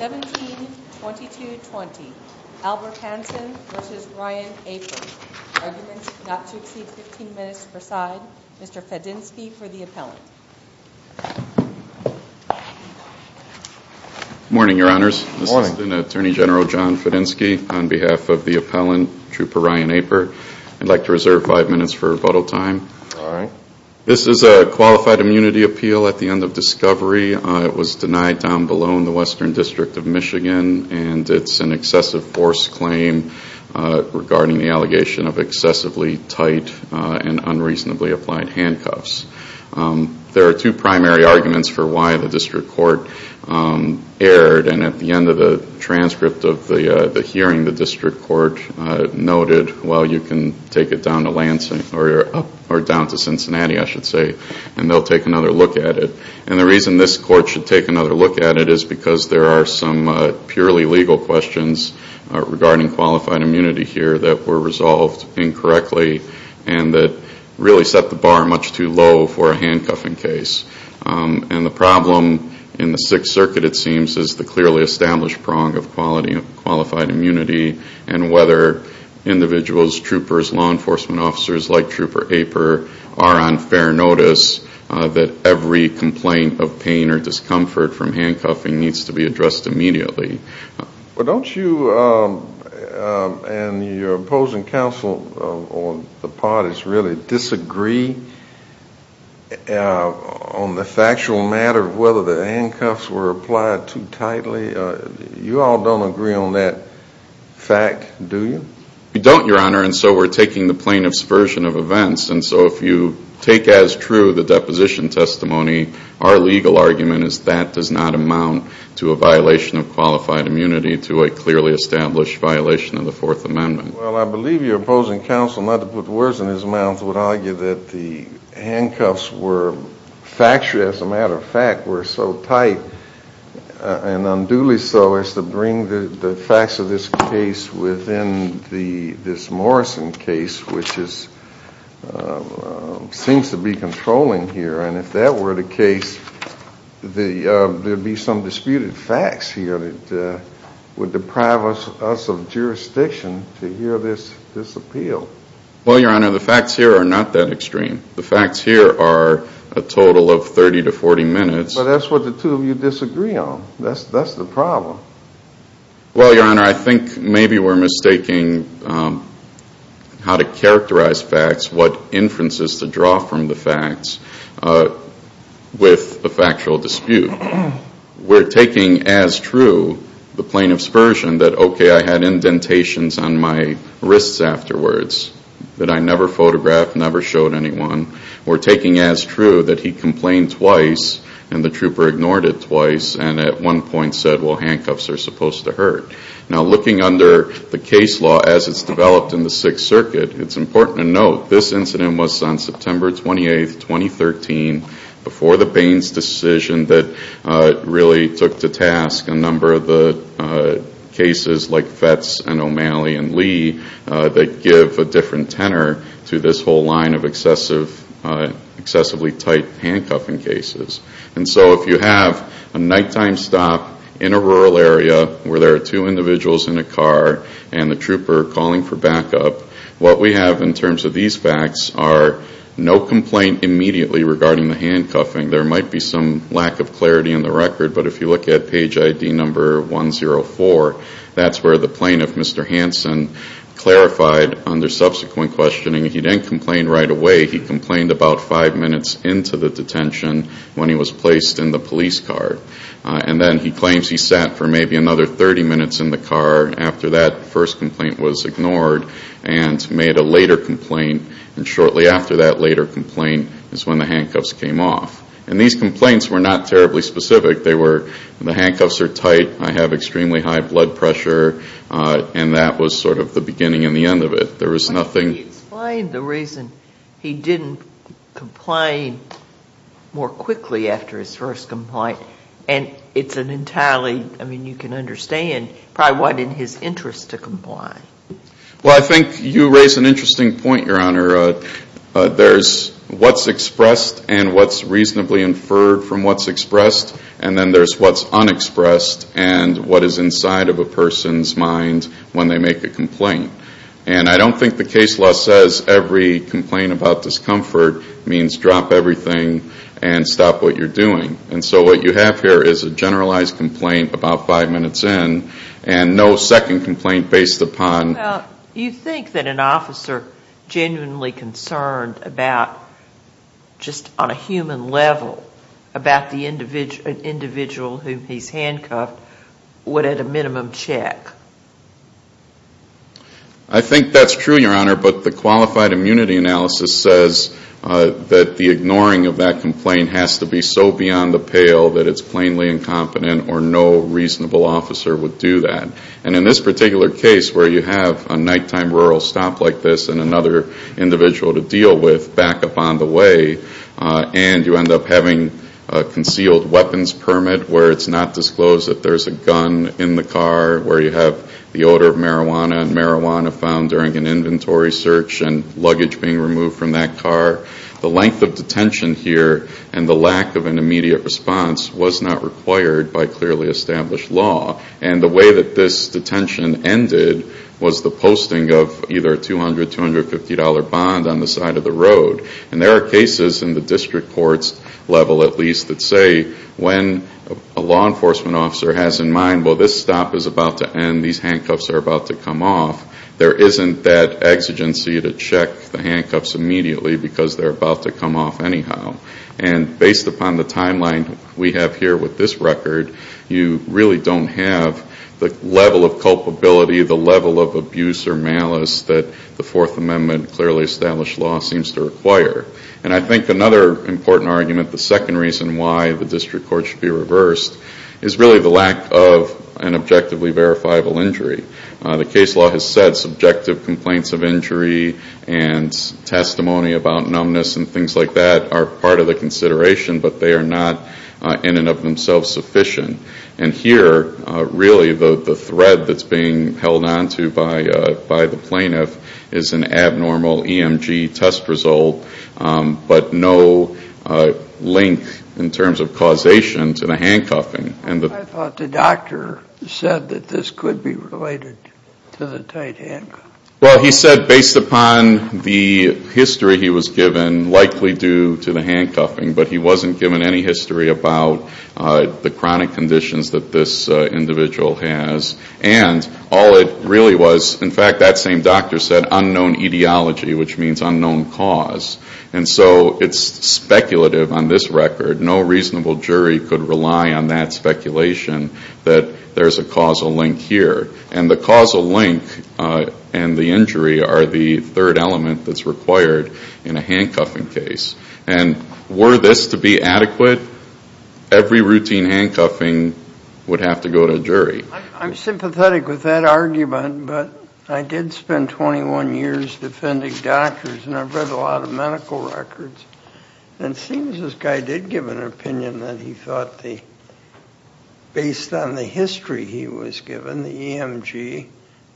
Arguments not to exceed 15 minutes, preside Mr. Fedenski for the appellant. Morning Your Honors. This is Attorney General John Fedenski on behalf of the appellant, Trooper Ryan Aper. I'd like to reserve five minutes for rebuttal time. This is a qualified immunity appeal at the end of discovery. It was denied down below in the Western District of Michigan and it's an excessive force claim regarding the allegation of excessively tight and unreasonably applied handcuffs. There are two primary arguments for why the district court erred and at the end of the transcript of the hearing the district court noted, well you can take it down to Lansing or down to Cincinnati I should say and they'll take another look at it. The reason this court should take another look at it is because there are some purely legal questions regarding qualified immunity here that were resolved incorrectly and that really set the bar much too low for a handcuffing case. The problem in the Sixth Circuit it seems is the clearly established prong of qualified immunity and whether individuals, troopers, law enforcement officers like Trooper Aper are on fair notice that every complaint of pain or discomfort from handcuffing needs to be addressed immediately. Well don't you and your opposing counsel on the part is really disagree on the factual matter of whether the handcuffs were applied too tightly? You all don't agree on that fact do you? We don't your honor and so we're taking the plaintiff's version of events and so if you take as true the deposition testimony our legal argument is that does not amount to a violation of qualified immunity to a clearly established violation of the Fourth Amendment. Well I believe your opposing counsel not to put words in his mouth would argue that the handcuffs were factually as a matter of fact were so tight and unduly so as to bring the this Morrison case which is seems to be controlling here and if that were the case there would be some disputed facts here that would deprive us of jurisdiction to hear this appeal. Well your honor the facts here are not that extreme. The facts here are a total of thirty to forty minutes. But that's what the two of you disagree on. That's the problem. Well your honor I think maybe we're mistaking how to characterize facts, what inferences to draw from the facts with the factual dispute. We're taking as true the plaintiff's version that okay I had indentations on my wrists afterwards that I never photographed, never showed anyone. We're taking as true that he complained twice and the trooper ignored it twice and at one point said well handcuffs are supposed to hurt. Now looking under the case law as it's developed in the Sixth Circuit it's important to note this incident was on September 28, 2013 before the Baines decision that really took to task a number of the cases like Fetz and O'Malley and Lee that give a different tenor to this whole line of excessively tight handcuffing cases. And so if you have a nighttime stop in a rural area where there are two individuals in a car and the trooper calling for backup, what we have in terms of these facts are no complaint immediately regarding the handcuffing. There might be some lack of clarity in the record but if you look at page ID number 104 that's where the plaintiff, Mr. Hanson, clarified under subsequent questioning he didn't complain right away. He complained about five minutes into the detention when he was placed in the police car. And then he claims he sat for maybe another 30 minutes in the car after that first complaint was ignored and made a later complaint and shortly after that later complaint is when the handcuffs came off. And these complaints were not terribly specific. They were the handcuffs are tight, I have to say. Can you explain the reason he didn't complain more quickly after his first complaint? And it's an entirely, I mean you can understand probably what in his interest to comply. Well I think you raise an interesting point, Your Honor. There's what's expressed and what's reasonably inferred from what's expressed and then there's what's unexpressed and what is inside of a person's mind when they make a complaint. And I don't think the case law says every complaint about discomfort means drop everything and stop what you're doing. And so what you have here is a generalized complaint about five minutes in and no second complaint based upon... You think that an officer genuinely concerned about just on a human level about the individual whom he's handcuffed would at a minimum check? I think that's true, Your Honor, but the qualified immunity analysis says that the ignoring of that complaint has to be so beyond the pale that it's plainly incompetent or no reasonable officer would do that. And in this particular case where you have a nighttime rural stop like this and another individual to deal with back up on the way and you end up having a where it's not disclosed that there's a gun in the car, where you have the odor of marijuana and marijuana found during an inventory search and luggage being removed from that car, the length of detention here and the lack of an immediate response was not required by clearly established law. And the way that this detention ended was the posting of either a $200, $250 bond on the side of the road. And there are cases in the district courts level at least that say when a law enforcement officer has in mind, well, this stop is about to end, these handcuffs are about to come off, there isn't that exigency to check the handcuffs immediately because they're about to come off anyhow. And based upon the timeline we have here with this record, you really don't have the level of culpability, the level of abuse or malice that the Fourth Amendment clearly established law seems to require. And I think another important argument, the second reason why the district court should be reversed is really the lack of an objectively verifiable injury. The case law has said subjective complaints of injury and testimony about numbness and things like that are part of the consideration but they are not in and of themselves sufficient. And here really the thread that's being held on to by the plaintiff is an abnormal EMG test result but no link in terms of causation to the handcuffing. I thought the doctor said that this could be related to the tight handcuffs. Well, he said based upon the history he was given, likely due to the handcuffing, but he wasn't given any history about the chronic conditions that this individual has. And all it really was, in fact, that same doctor said unknown etiology, which means unknown cause. And so it's speculative on this record. No reasonable jury could rely on that speculation that there's a causal link here. And the causal link and the injury are the third element that's required in a handcuffing case. And were this to be adequate, every routine handcuffing would have to go to a jury. I'm sympathetic with that argument, but I did spend 21 years defending doctors and I've read a lot of medical records. And it seems this guy did give an opinion that he thought the, based on the history he was given, the EMG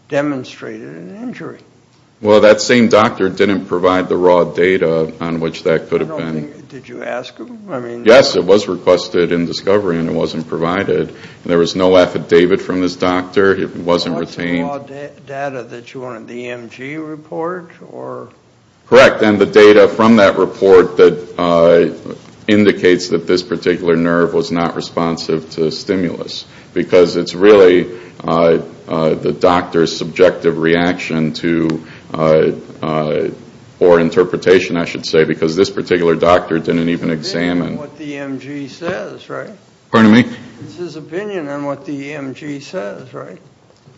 demonstrated an injury. Well that same doctor didn't provide the raw data on which that could have been. Did you ask him? Yes, it was requested in discovery and it wasn't provided. And there was no affidavit from this doctor. It wasn't retained. What's the raw data that you wanted? The EMG report? Correct. And the data from that report that indicates that this particular nerve was not responsive to stimulus. Because it's really the doctor's subjective reaction to, or interpretation I should say, because this particular doctor didn't even examine. It's his opinion on what the EMG says, right?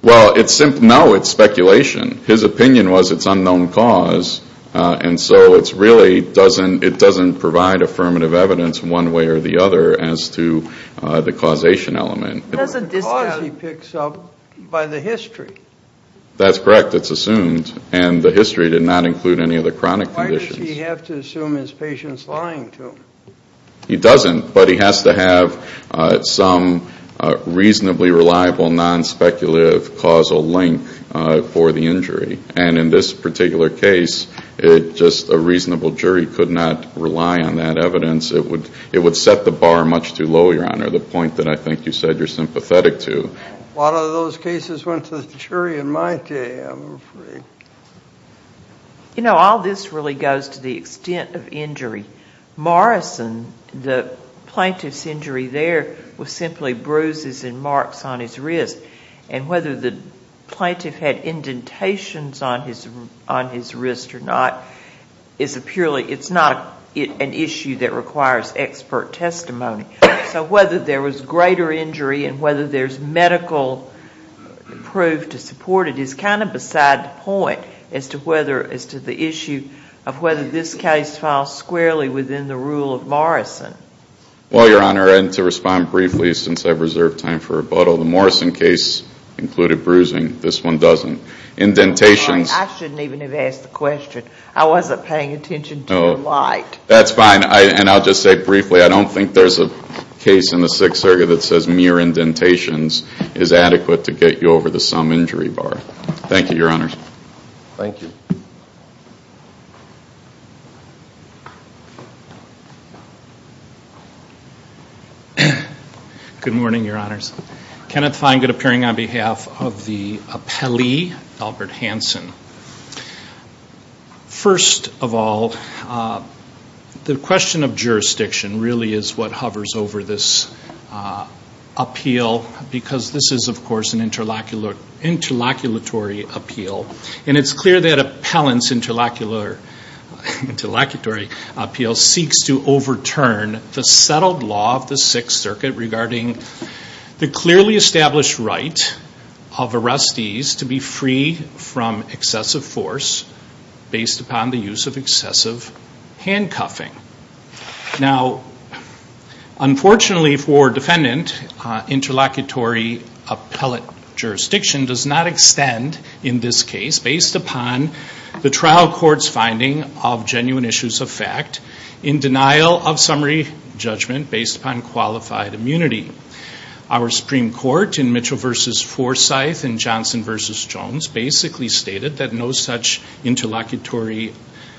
Well, no, it's speculation. His opinion was it's unknown cause. And so it really doesn't provide affirmative evidence one way or the other as to the causation element. It's the cause he picks up by the history. That's correct. It's assumed. And the history did not include any of the chronic conditions. Does he have to assume his patient's lying to him? He doesn't. But he has to have some reasonably reliable non-speculative causal link for the injury. And in this particular case, just a reasonable jury could not rely on that evidence. It would set the bar much too low, Your Honor, the point that I think you said you're sympathetic to. A lot of those cases went to the jury in my day, I'm afraid. You know, all this really goes to the extent of injury. Morrison, the plaintiff's injury there was simply bruises and marks on his wrist. And whether the plaintiff had indentations on his wrist or not, it's not an issue that requires expert testimony. So whether there was greater injury and whether there's medical proof to support it is kind of beside the point as to whether, as to the issue of whether this case falls squarely within the rule of Morrison. Well, Your Honor, and to respond briefly since I've reserved time for rebuttal, the Morrison case included bruising. This one doesn't. Indentations... I shouldn't even have asked the question. I wasn't paying attention to your light. That's fine. And I'll just say briefly, I don't think there's a case in the Sixth Circuit that says mere indentations is adequate to get you over the sum injury bar. Thank you, Your Honors. Thank you. Good morning, Your Honors. Kenneth Feingold appearing on behalf of the appellee, Albert Hanson. First of all, the question of jurisdiction really is what hovers over this appeal, because this is, of course, an interlocutory appeal. And it's clear that appellant's interlocutory appeal seeks to overturn the settled law of the Sixth Circuit regarding the clearly established right of arrestees to be free from excessive force based upon the use of excessive handcuffing. Now, unfortunately for defendant, interlocutory appellate jurisdiction does not extend, in this case, based upon the trial court's finding of genuine issues of fact in denial of summary judgment based upon qualified immunity. Our Supreme Court in Mitchell v. Forsyth and Johnson v. Jones basically stated that no such interlocutory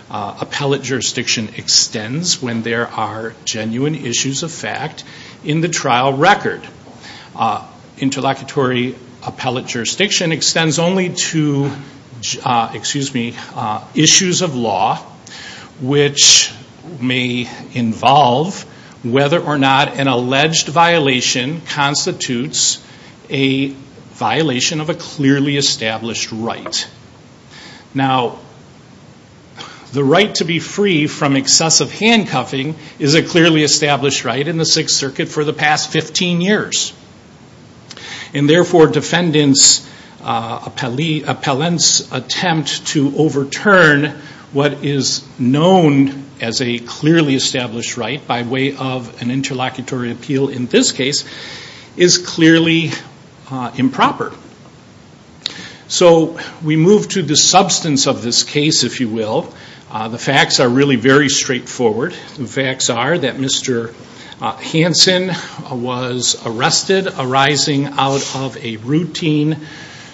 appellate jurisdiction extends when there are genuine issues of fact in the trial record. Interlocutory appellate jurisdiction extends only to issues of law which may involve whether or not an alleged violation constitutes a violation of a clearly established right. Now, the right to be free from excessive handcuffing is a clearly established right in the Sixth Circuit for the past 15 years. And therefore, defendants, appellants attempt to overturn what is known as a clearly established right by way of an interlocutory appeal, in this case, is clearly improper. So we move to the substance of this case, if you will. The facts are really very straightforward. The facts are that Mr. Hansen was arrested arising out of a routine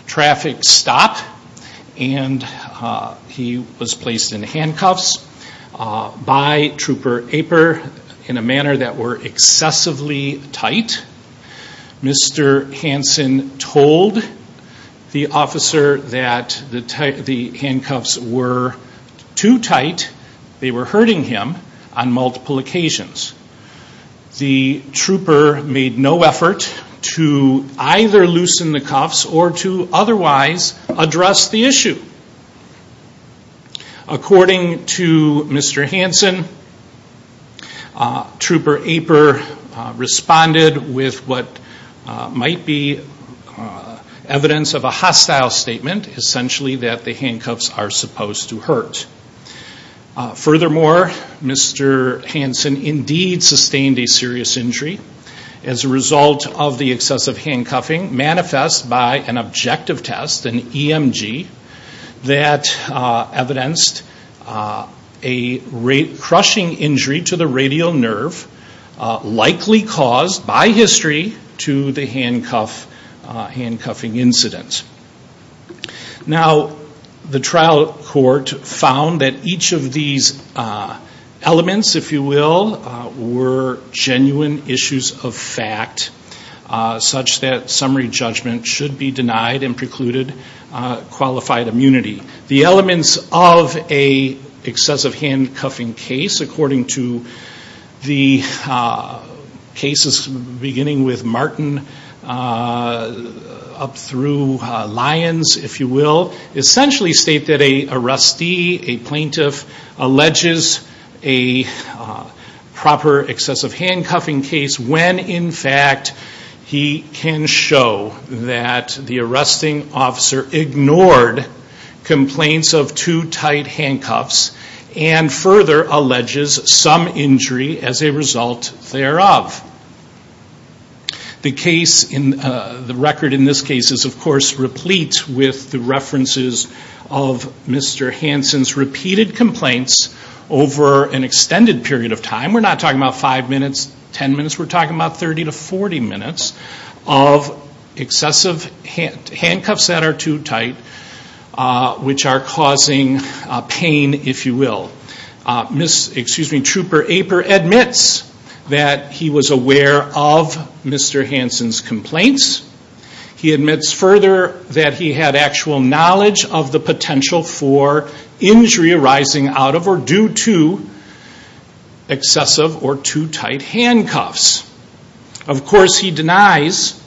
traffic stop and he was placed in handcuffs by Trooper Aper in a manner that were excessively tight. Mr. Hansen told the officer that the handcuffs were too tight. They were hurting him on multiple occasions. The trooper made no effort to either loosen the cuffs or to otherwise address the issue. According to Mr. Hansen, Trooper Aper responded with what might be evidence of a hostile statement, essentially that the handcuffs are supposed to hurt. Furthermore, Mr. Hansen indeed sustained a serious injury as a result of the excessive force that evidenced a crushing injury to the radial nerve, likely caused by history to the handcuffing incident. Now the trial court found that each of these elements, if you will, were genuine issues of fact such that summary judgment should be denied and precluded qualified immunity. The elements of an excessive handcuffing case, according to the cases beginning with Martin up through Lyons, if you will, essentially state that an arrestee, a plaintiff, alleges a proper excessive handcuffing case when in fact he can show that the arresting officer ignored complaints of too tight handcuffs and further alleges some injury as a result thereof. The record in this case is of course replete with the references of Mr. Hansen's repeated complaints over an extended period of time. We're not talking about five minutes, ten minutes, we're talking about thirty to forty minutes of excessive handcuffs that are too tight which are causing pain, if you will. Trooper Aper admits that he was aware of Mr. Hansen's complaints. He admits further that he had actual knowledge of the potential for injury arising out of or due to excessive or too tight handcuffs. Of course he denies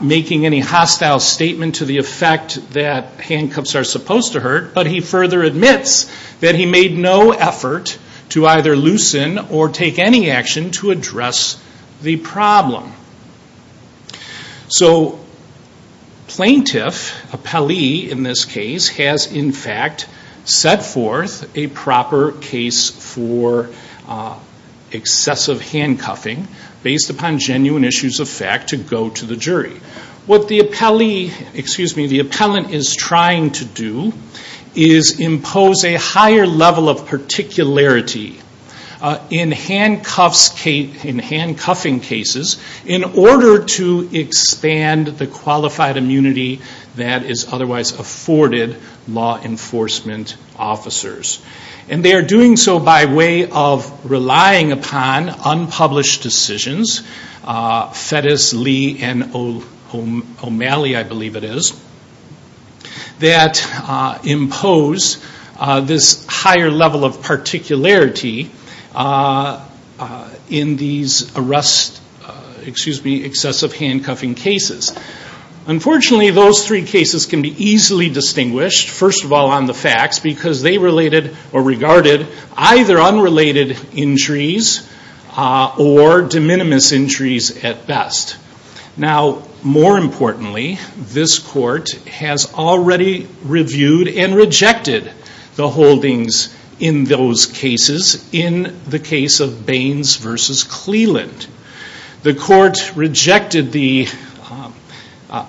making any hostile statement to the effect that handcuffs are supposed to hurt, but he further admits that he made no effort to either loosen or take any action to address the problem. So plaintiff, a Pelley in this case, has in fact set forth a proper case for excessive handcuffing based upon genuine issues of fact to go to the jury. What the appellant is trying to do is impose a higher level of particularity in handcuffing cases in order to expand the qualified immunity that is otherwise afforded law enforcement officers. And they are doing so by way of relying upon unpublished decisions, Fettus, Lee, and O'Malley I believe it is, that impose this higher level of particularity in these excessive handcuffing cases. Unfortunately those three cases can be easily distinguished, first of all on the facts, because they related or regarded either unrelated injuries or de minimis injuries at best. Now more importantly, this court has already reviewed and rejected the holdings in those cases in the case of Baines v. Cleland. The court rejected the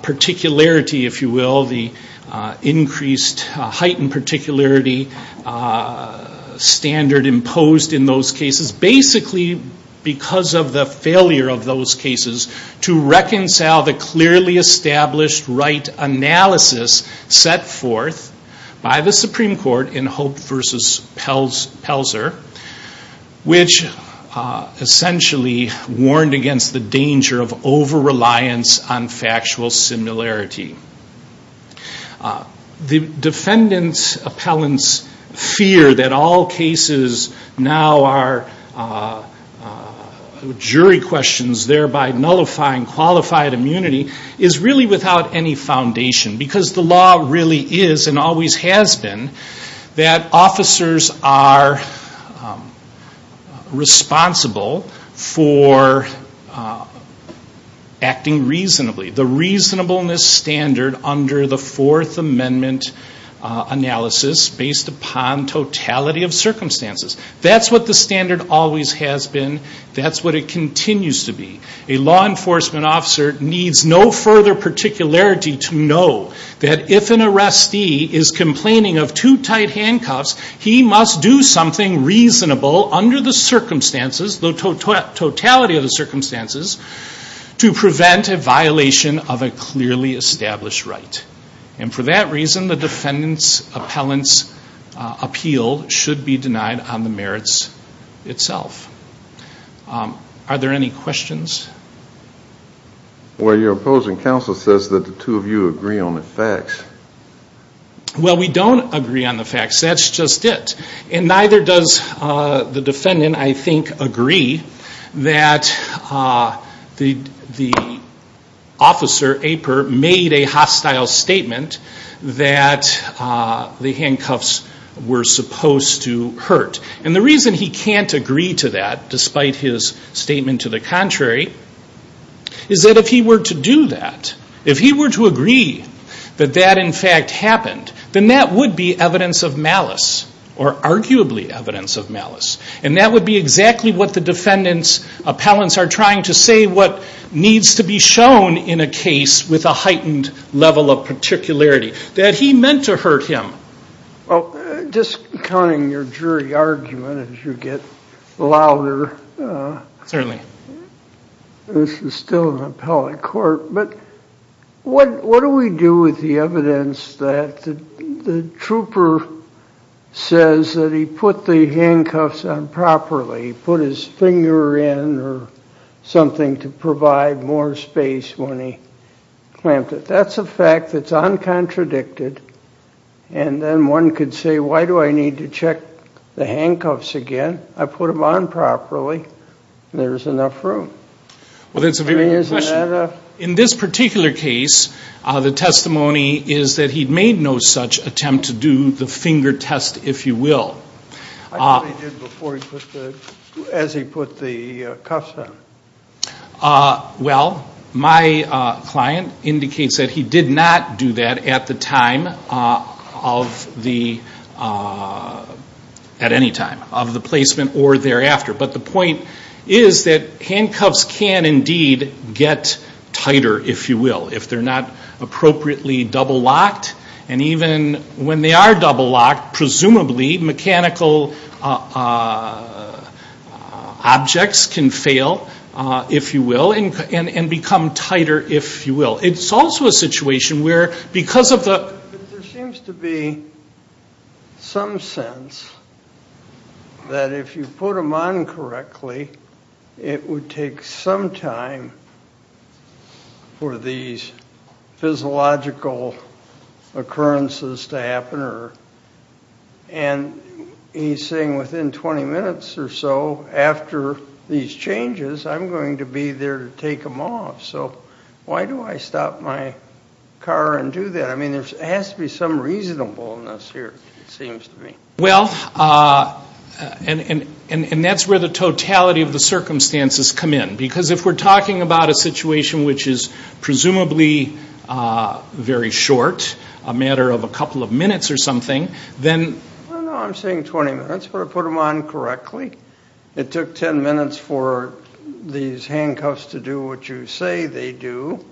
particularity, if you will, the increased heightened particularity standard imposed in those cases basically because of the failure of those cases to reconcile the clearly established right analysis set forth by the Supreme Court in Hope v. Pelzer, which essentially warned against the danger of over-reliance on factual similarity. The defendant's appellant's fear that all cases now are jury questions thereby nullifying qualified immunity is really without any foundation because the law really is and always has been that officers are responsible for acting reasonably. The reasonableness standard under the Fourth Amendment analysis based upon totality of circumstances. That's what the standard always has been. That's what it continues to be. A law enforcement officer needs no further particularity to know that if an arrestee is complaining of too tight handcuffs, he must do something reasonable under the circumstances, the totality of the circumstances, to prevent a violation of a clearly established right. And for that reason, the defendant's appellant's appeal should be denied on the merits itself. Are there any questions? Well your opposing counsel says that the two of you agree on the facts. Well we don't agree on the facts. That's just it. And neither does the defendant, I think, agree that the officer, Aper, made a hostile statement that the handcuffs were supposed to hurt. And the reason he can't agree to that, despite his statement to the contrary, is that if he were to do that, if he were to agree that that is what in fact happened, then that would be evidence of malice, or arguably evidence of malice. And that would be exactly what the defendant's appellants are trying to say what needs to be shown in a case with a heightened level of particularity, that he meant to hurt him. Well, just counting your jury argument as you get louder, this is still an appellate court, but what do we do with the evidence that the trooper says that he put the handcuffs on properly, put his finger in or something to provide more space when he clamped it. That's a fact that's uncontradicted. And then one could say, why do I need to check the handcuffs again? I put them on properly. There's enough room. Well, that's a very good question. In this particular case, the testimony is that he made no such attempt to do the finger test, if you will. I thought he did before he put the, as he put the cuffs on. Well, my client indicates that he did not do that at the time of the, at any time of the placement or thereafter. But the point is that handcuffs can indeed get tighter, if you will, if they're not appropriately double locked. And even when they are double locked, presumably mechanical objects can fail, if you will, and become tighter, if you will. It's also a situation where, because of the... that if you put them on correctly, it would take some time for these physiological occurrences to happen. And he's saying within 20 minutes or so, after these changes, I'm going to be there to take them off. So why do I stop my car and do that? I mean, there has to be some reasonableness here, it seems to me. Well, and that's where the totality of the circumstances come in. Because if we're talking about a situation which is presumably very short, a matter of a couple of minutes or something, then... No, no, I'm saying 20 minutes, but I put them on correctly. It took 10 minutes for these handcuffs to do what you say they do,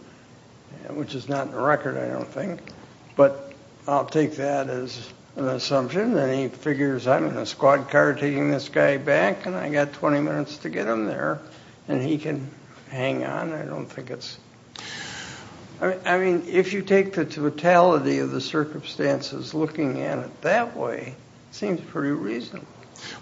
which is not in the record, I don't think. But I'll take that as an assumption. And he figures, I'm in a squad car taking this guy back, and I've got 20 minutes to get him there. And he can hang on, I don't think it's... I mean, if you take the totality of the circumstances looking at it that way, it seems pretty reasonable.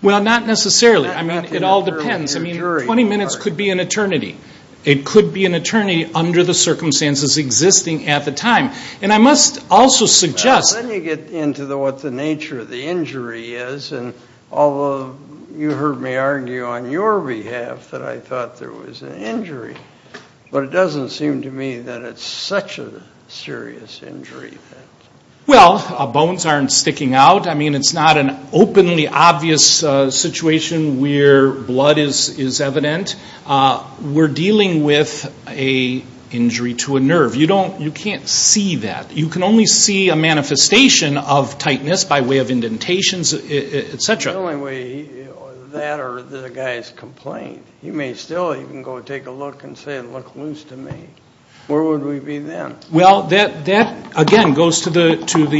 Well, not necessarily. I mean, it all depends. I mean, 20 minutes could be an eternity. It could be an eternity under the circumstances existing at the time. And I must also suggest... Well, then you get into what the nature of the injury is. And although you heard me argue on your behalf that I thought there was an injury, but it doesn't seem to me that it's such a serious injury. Well, bones aren't sticking out. I mean, it's not an openly obvious situation where blood is evident. We're dealing with an injury to a nerve. You can't see that. You can only see a manifestation of tightness by way of indentations, et cetera. The only way that or the guy's complained. He may still even go take a look and say, look loose to me. Where would we be then? Well, that, again, goes to the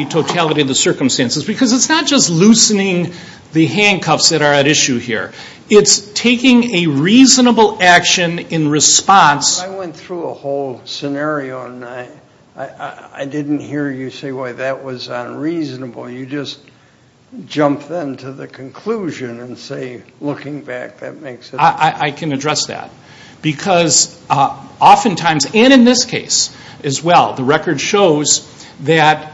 totality of the circumstances. Because it's not just loosening the handcuffs that are at issue here. It's taking a reasonable action in response. I went through a whole scenario, and I didn't hear you say why that was unreasonable. You just jumped then to the conclusion and say, looking back, that makes it... I can address that. Because oftentimes, and in this case as well, the record shows that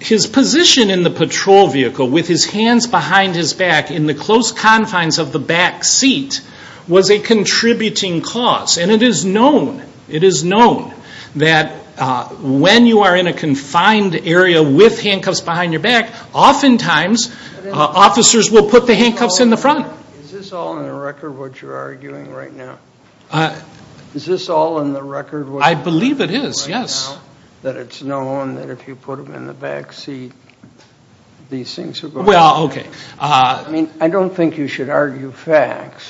his position in the patrol vehicle with his hands behind his back in the close confines of the back seat was a contributing cause. And it is known, it is known that when you are in a confined area with handcuffs behind your back, oftentimes officers will put the handcuffs in the front. Is this all in the record what you're arguing right now? Is this all in the record what you're arguing right now? I believe it is, yes. That it's known that if you put them in the back seat, these things are going to happen. Well, okay. I mean, I don't think you should argue facts.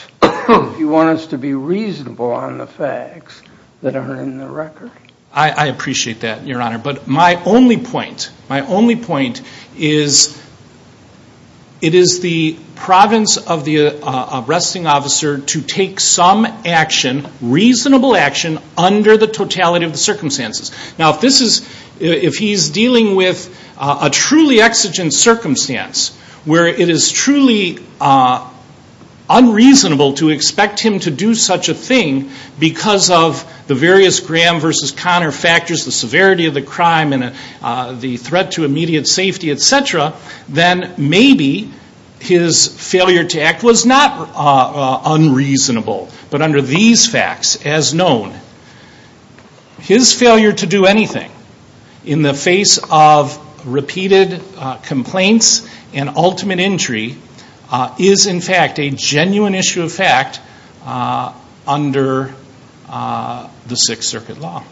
You want us to be reasonable on the facts that are in the record? I appreciate that, Your Honor. But my only point, my only point is it is the province of the arresting officer to take some action, reasonable action, under the totality of the circumstances. Now, if this is, if he's dealing with a truly exigent circumstance where it is truly unreasonable to expect him to do such a thing because of the various Graham versus Connor factors, the severity of the crime and the threat to immediate safety, et cetera, then maybe his failure to act was not unreasonable. But under these facts, as known, his failure to do anything in the face of repeated complaints and ultimate injury is, in fact, a genuine issue of fact under the Sixth Circuit law.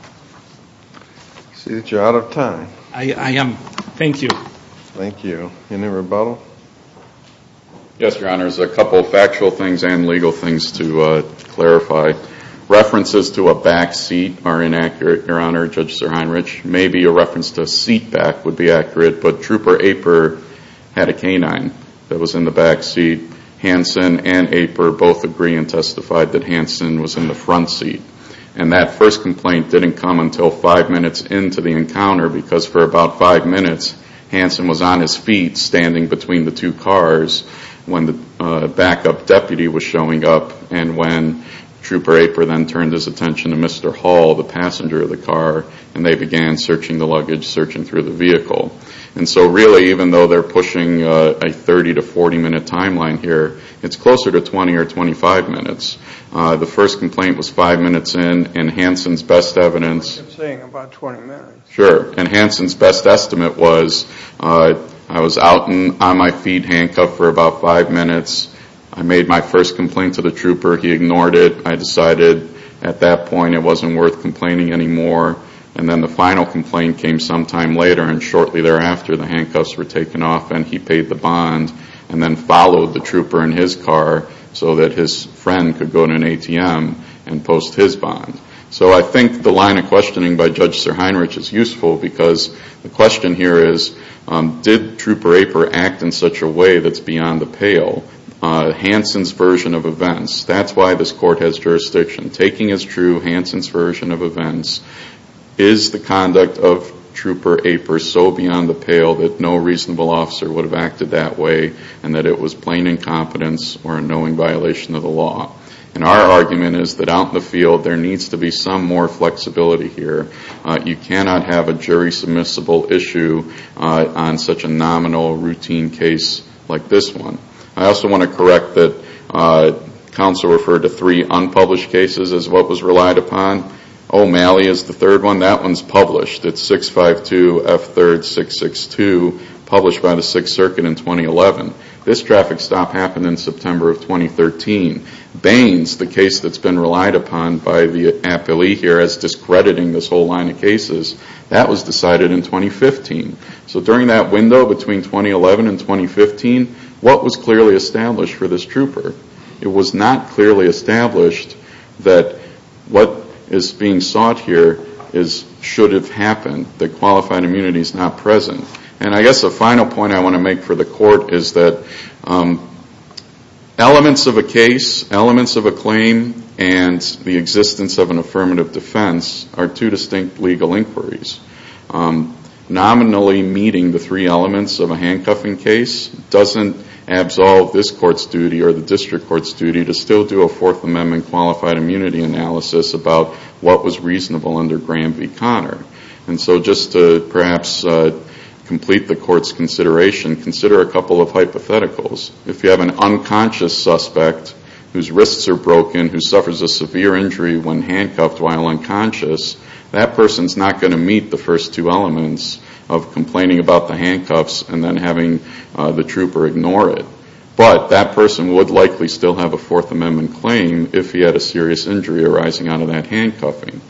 I see that you're out of time. I am. Thank you. Thank you. Any rebuttal? Yes, Your Honor. There's a couple of factual things and legal things to clarify. References to a back seat are inaccurate, Your Honor, Judge SirHeinrich. Maybe a reference to a seat back would be accurate. But Trooper Aper had a canine that was in the back seat. Hanson and Aper both agree and testified that Hanson was in the front seat. And that first complaint didn't come until five minutes into the encounter because for about five minutes, Hanson was on his feet standing between the two cars when the backup deputy was showing up and when Trooper Aper then turned his attention to Mr. Hall, the passenger of the car, and they began searching the luggage, searching through the vehicle. And so really, even though they're pushing a 30 to 40-minute timeline here, it's closer to 20 or 25 minutes. The first complaint was five minutes in, and Hanson's best evidence. I'm saying about 20 minutes. Sure. And Hanson's best estimate was I was out on my feet handcuffed for about five minutes. I made my first complaint to the trooper. He ignored it. I decided at that point it wasn't worth complaining anymore. And then the final complaint came sometime later, and shortly thereafter the handcuffs were taken off and he paid the bond and then followed the trooper in his car so that his friend could go to an ATM and post his bond. So I think the line of questioning by Judge Sir Heinrich is useful because the question here is did Trooper Aper act in such a way that's beyond the pale? Hanson's version of events. That's why this court has jurisdiction. Taking as true Hanson's version of events, is the conduct of Trooper Aper so beyond the pale that no reasonable officer would have acted that way and that it was plain incompetence or a knowing violation of the law? And our argument is that out in the field there needs to be some more flexibility here. You cannot have a jury submissible issue on such a nominal routine case like this one. I also want to correct that counsel referred to three unpublished cases as what was relied upon. O'Malley is the third one. That one's published. It's 652F3662, published by the Sixth Circuit in 2011. This traffic stop happened in September of 2013. Baines, the case that's been relied upon by the appellee here as discrediting this whole line of cases, that was decided in 2015. So during that window between 2011 and 2015, what was clearly established for this trooper? It was not clearly established that what is being sought here should have happened, that qualified immunity is not present. And I guess a final point I want to make for the court is that elements of a case, elements of a claim, and the existence of an affirmative defense are two distinct legal inquiries. Nominally meeting the three elements of a handcuffing case doesn't absolve this court's duty or the district court's duty to still do a Fourth Amendment qualified immunity analysis about what was reasonable under Graham v. Conner. And so just to perhaps complete the court's consideration, consider a couple of hypotheticals. If you have an unconscious suspect whose wrists are broken, who suffers a severe injury when handcuffed while unconscious, that person's not going to meet the first two elements of complaining about the handcuffs and then having the trooper ignore it. But that person would likely still have a Fourth Amendment claim if he had a serious injury arising out of that handcuffing.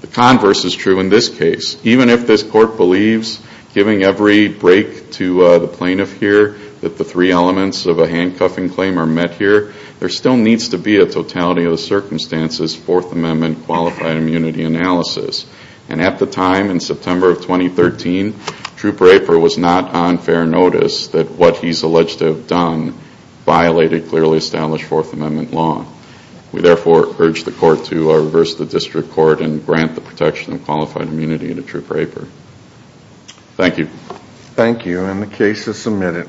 The converse is true in this case. Even if this court believes, giving every break to the plaintiff here, that the three elements of a handcuffing claim are met here, there still needs to be a totality of the circumstances Fourth Amendment qualified immunity analysis. And at the time, in September of 2013, Trooper Aper was not on fair notice that what he's alleged to have done violated clearly established Fourth Amendment law. We therefore urge the court to reverse the district court and grant the protection of qualified immunity to Trooper Aper. Thank you. Thank you, and the case is submitted.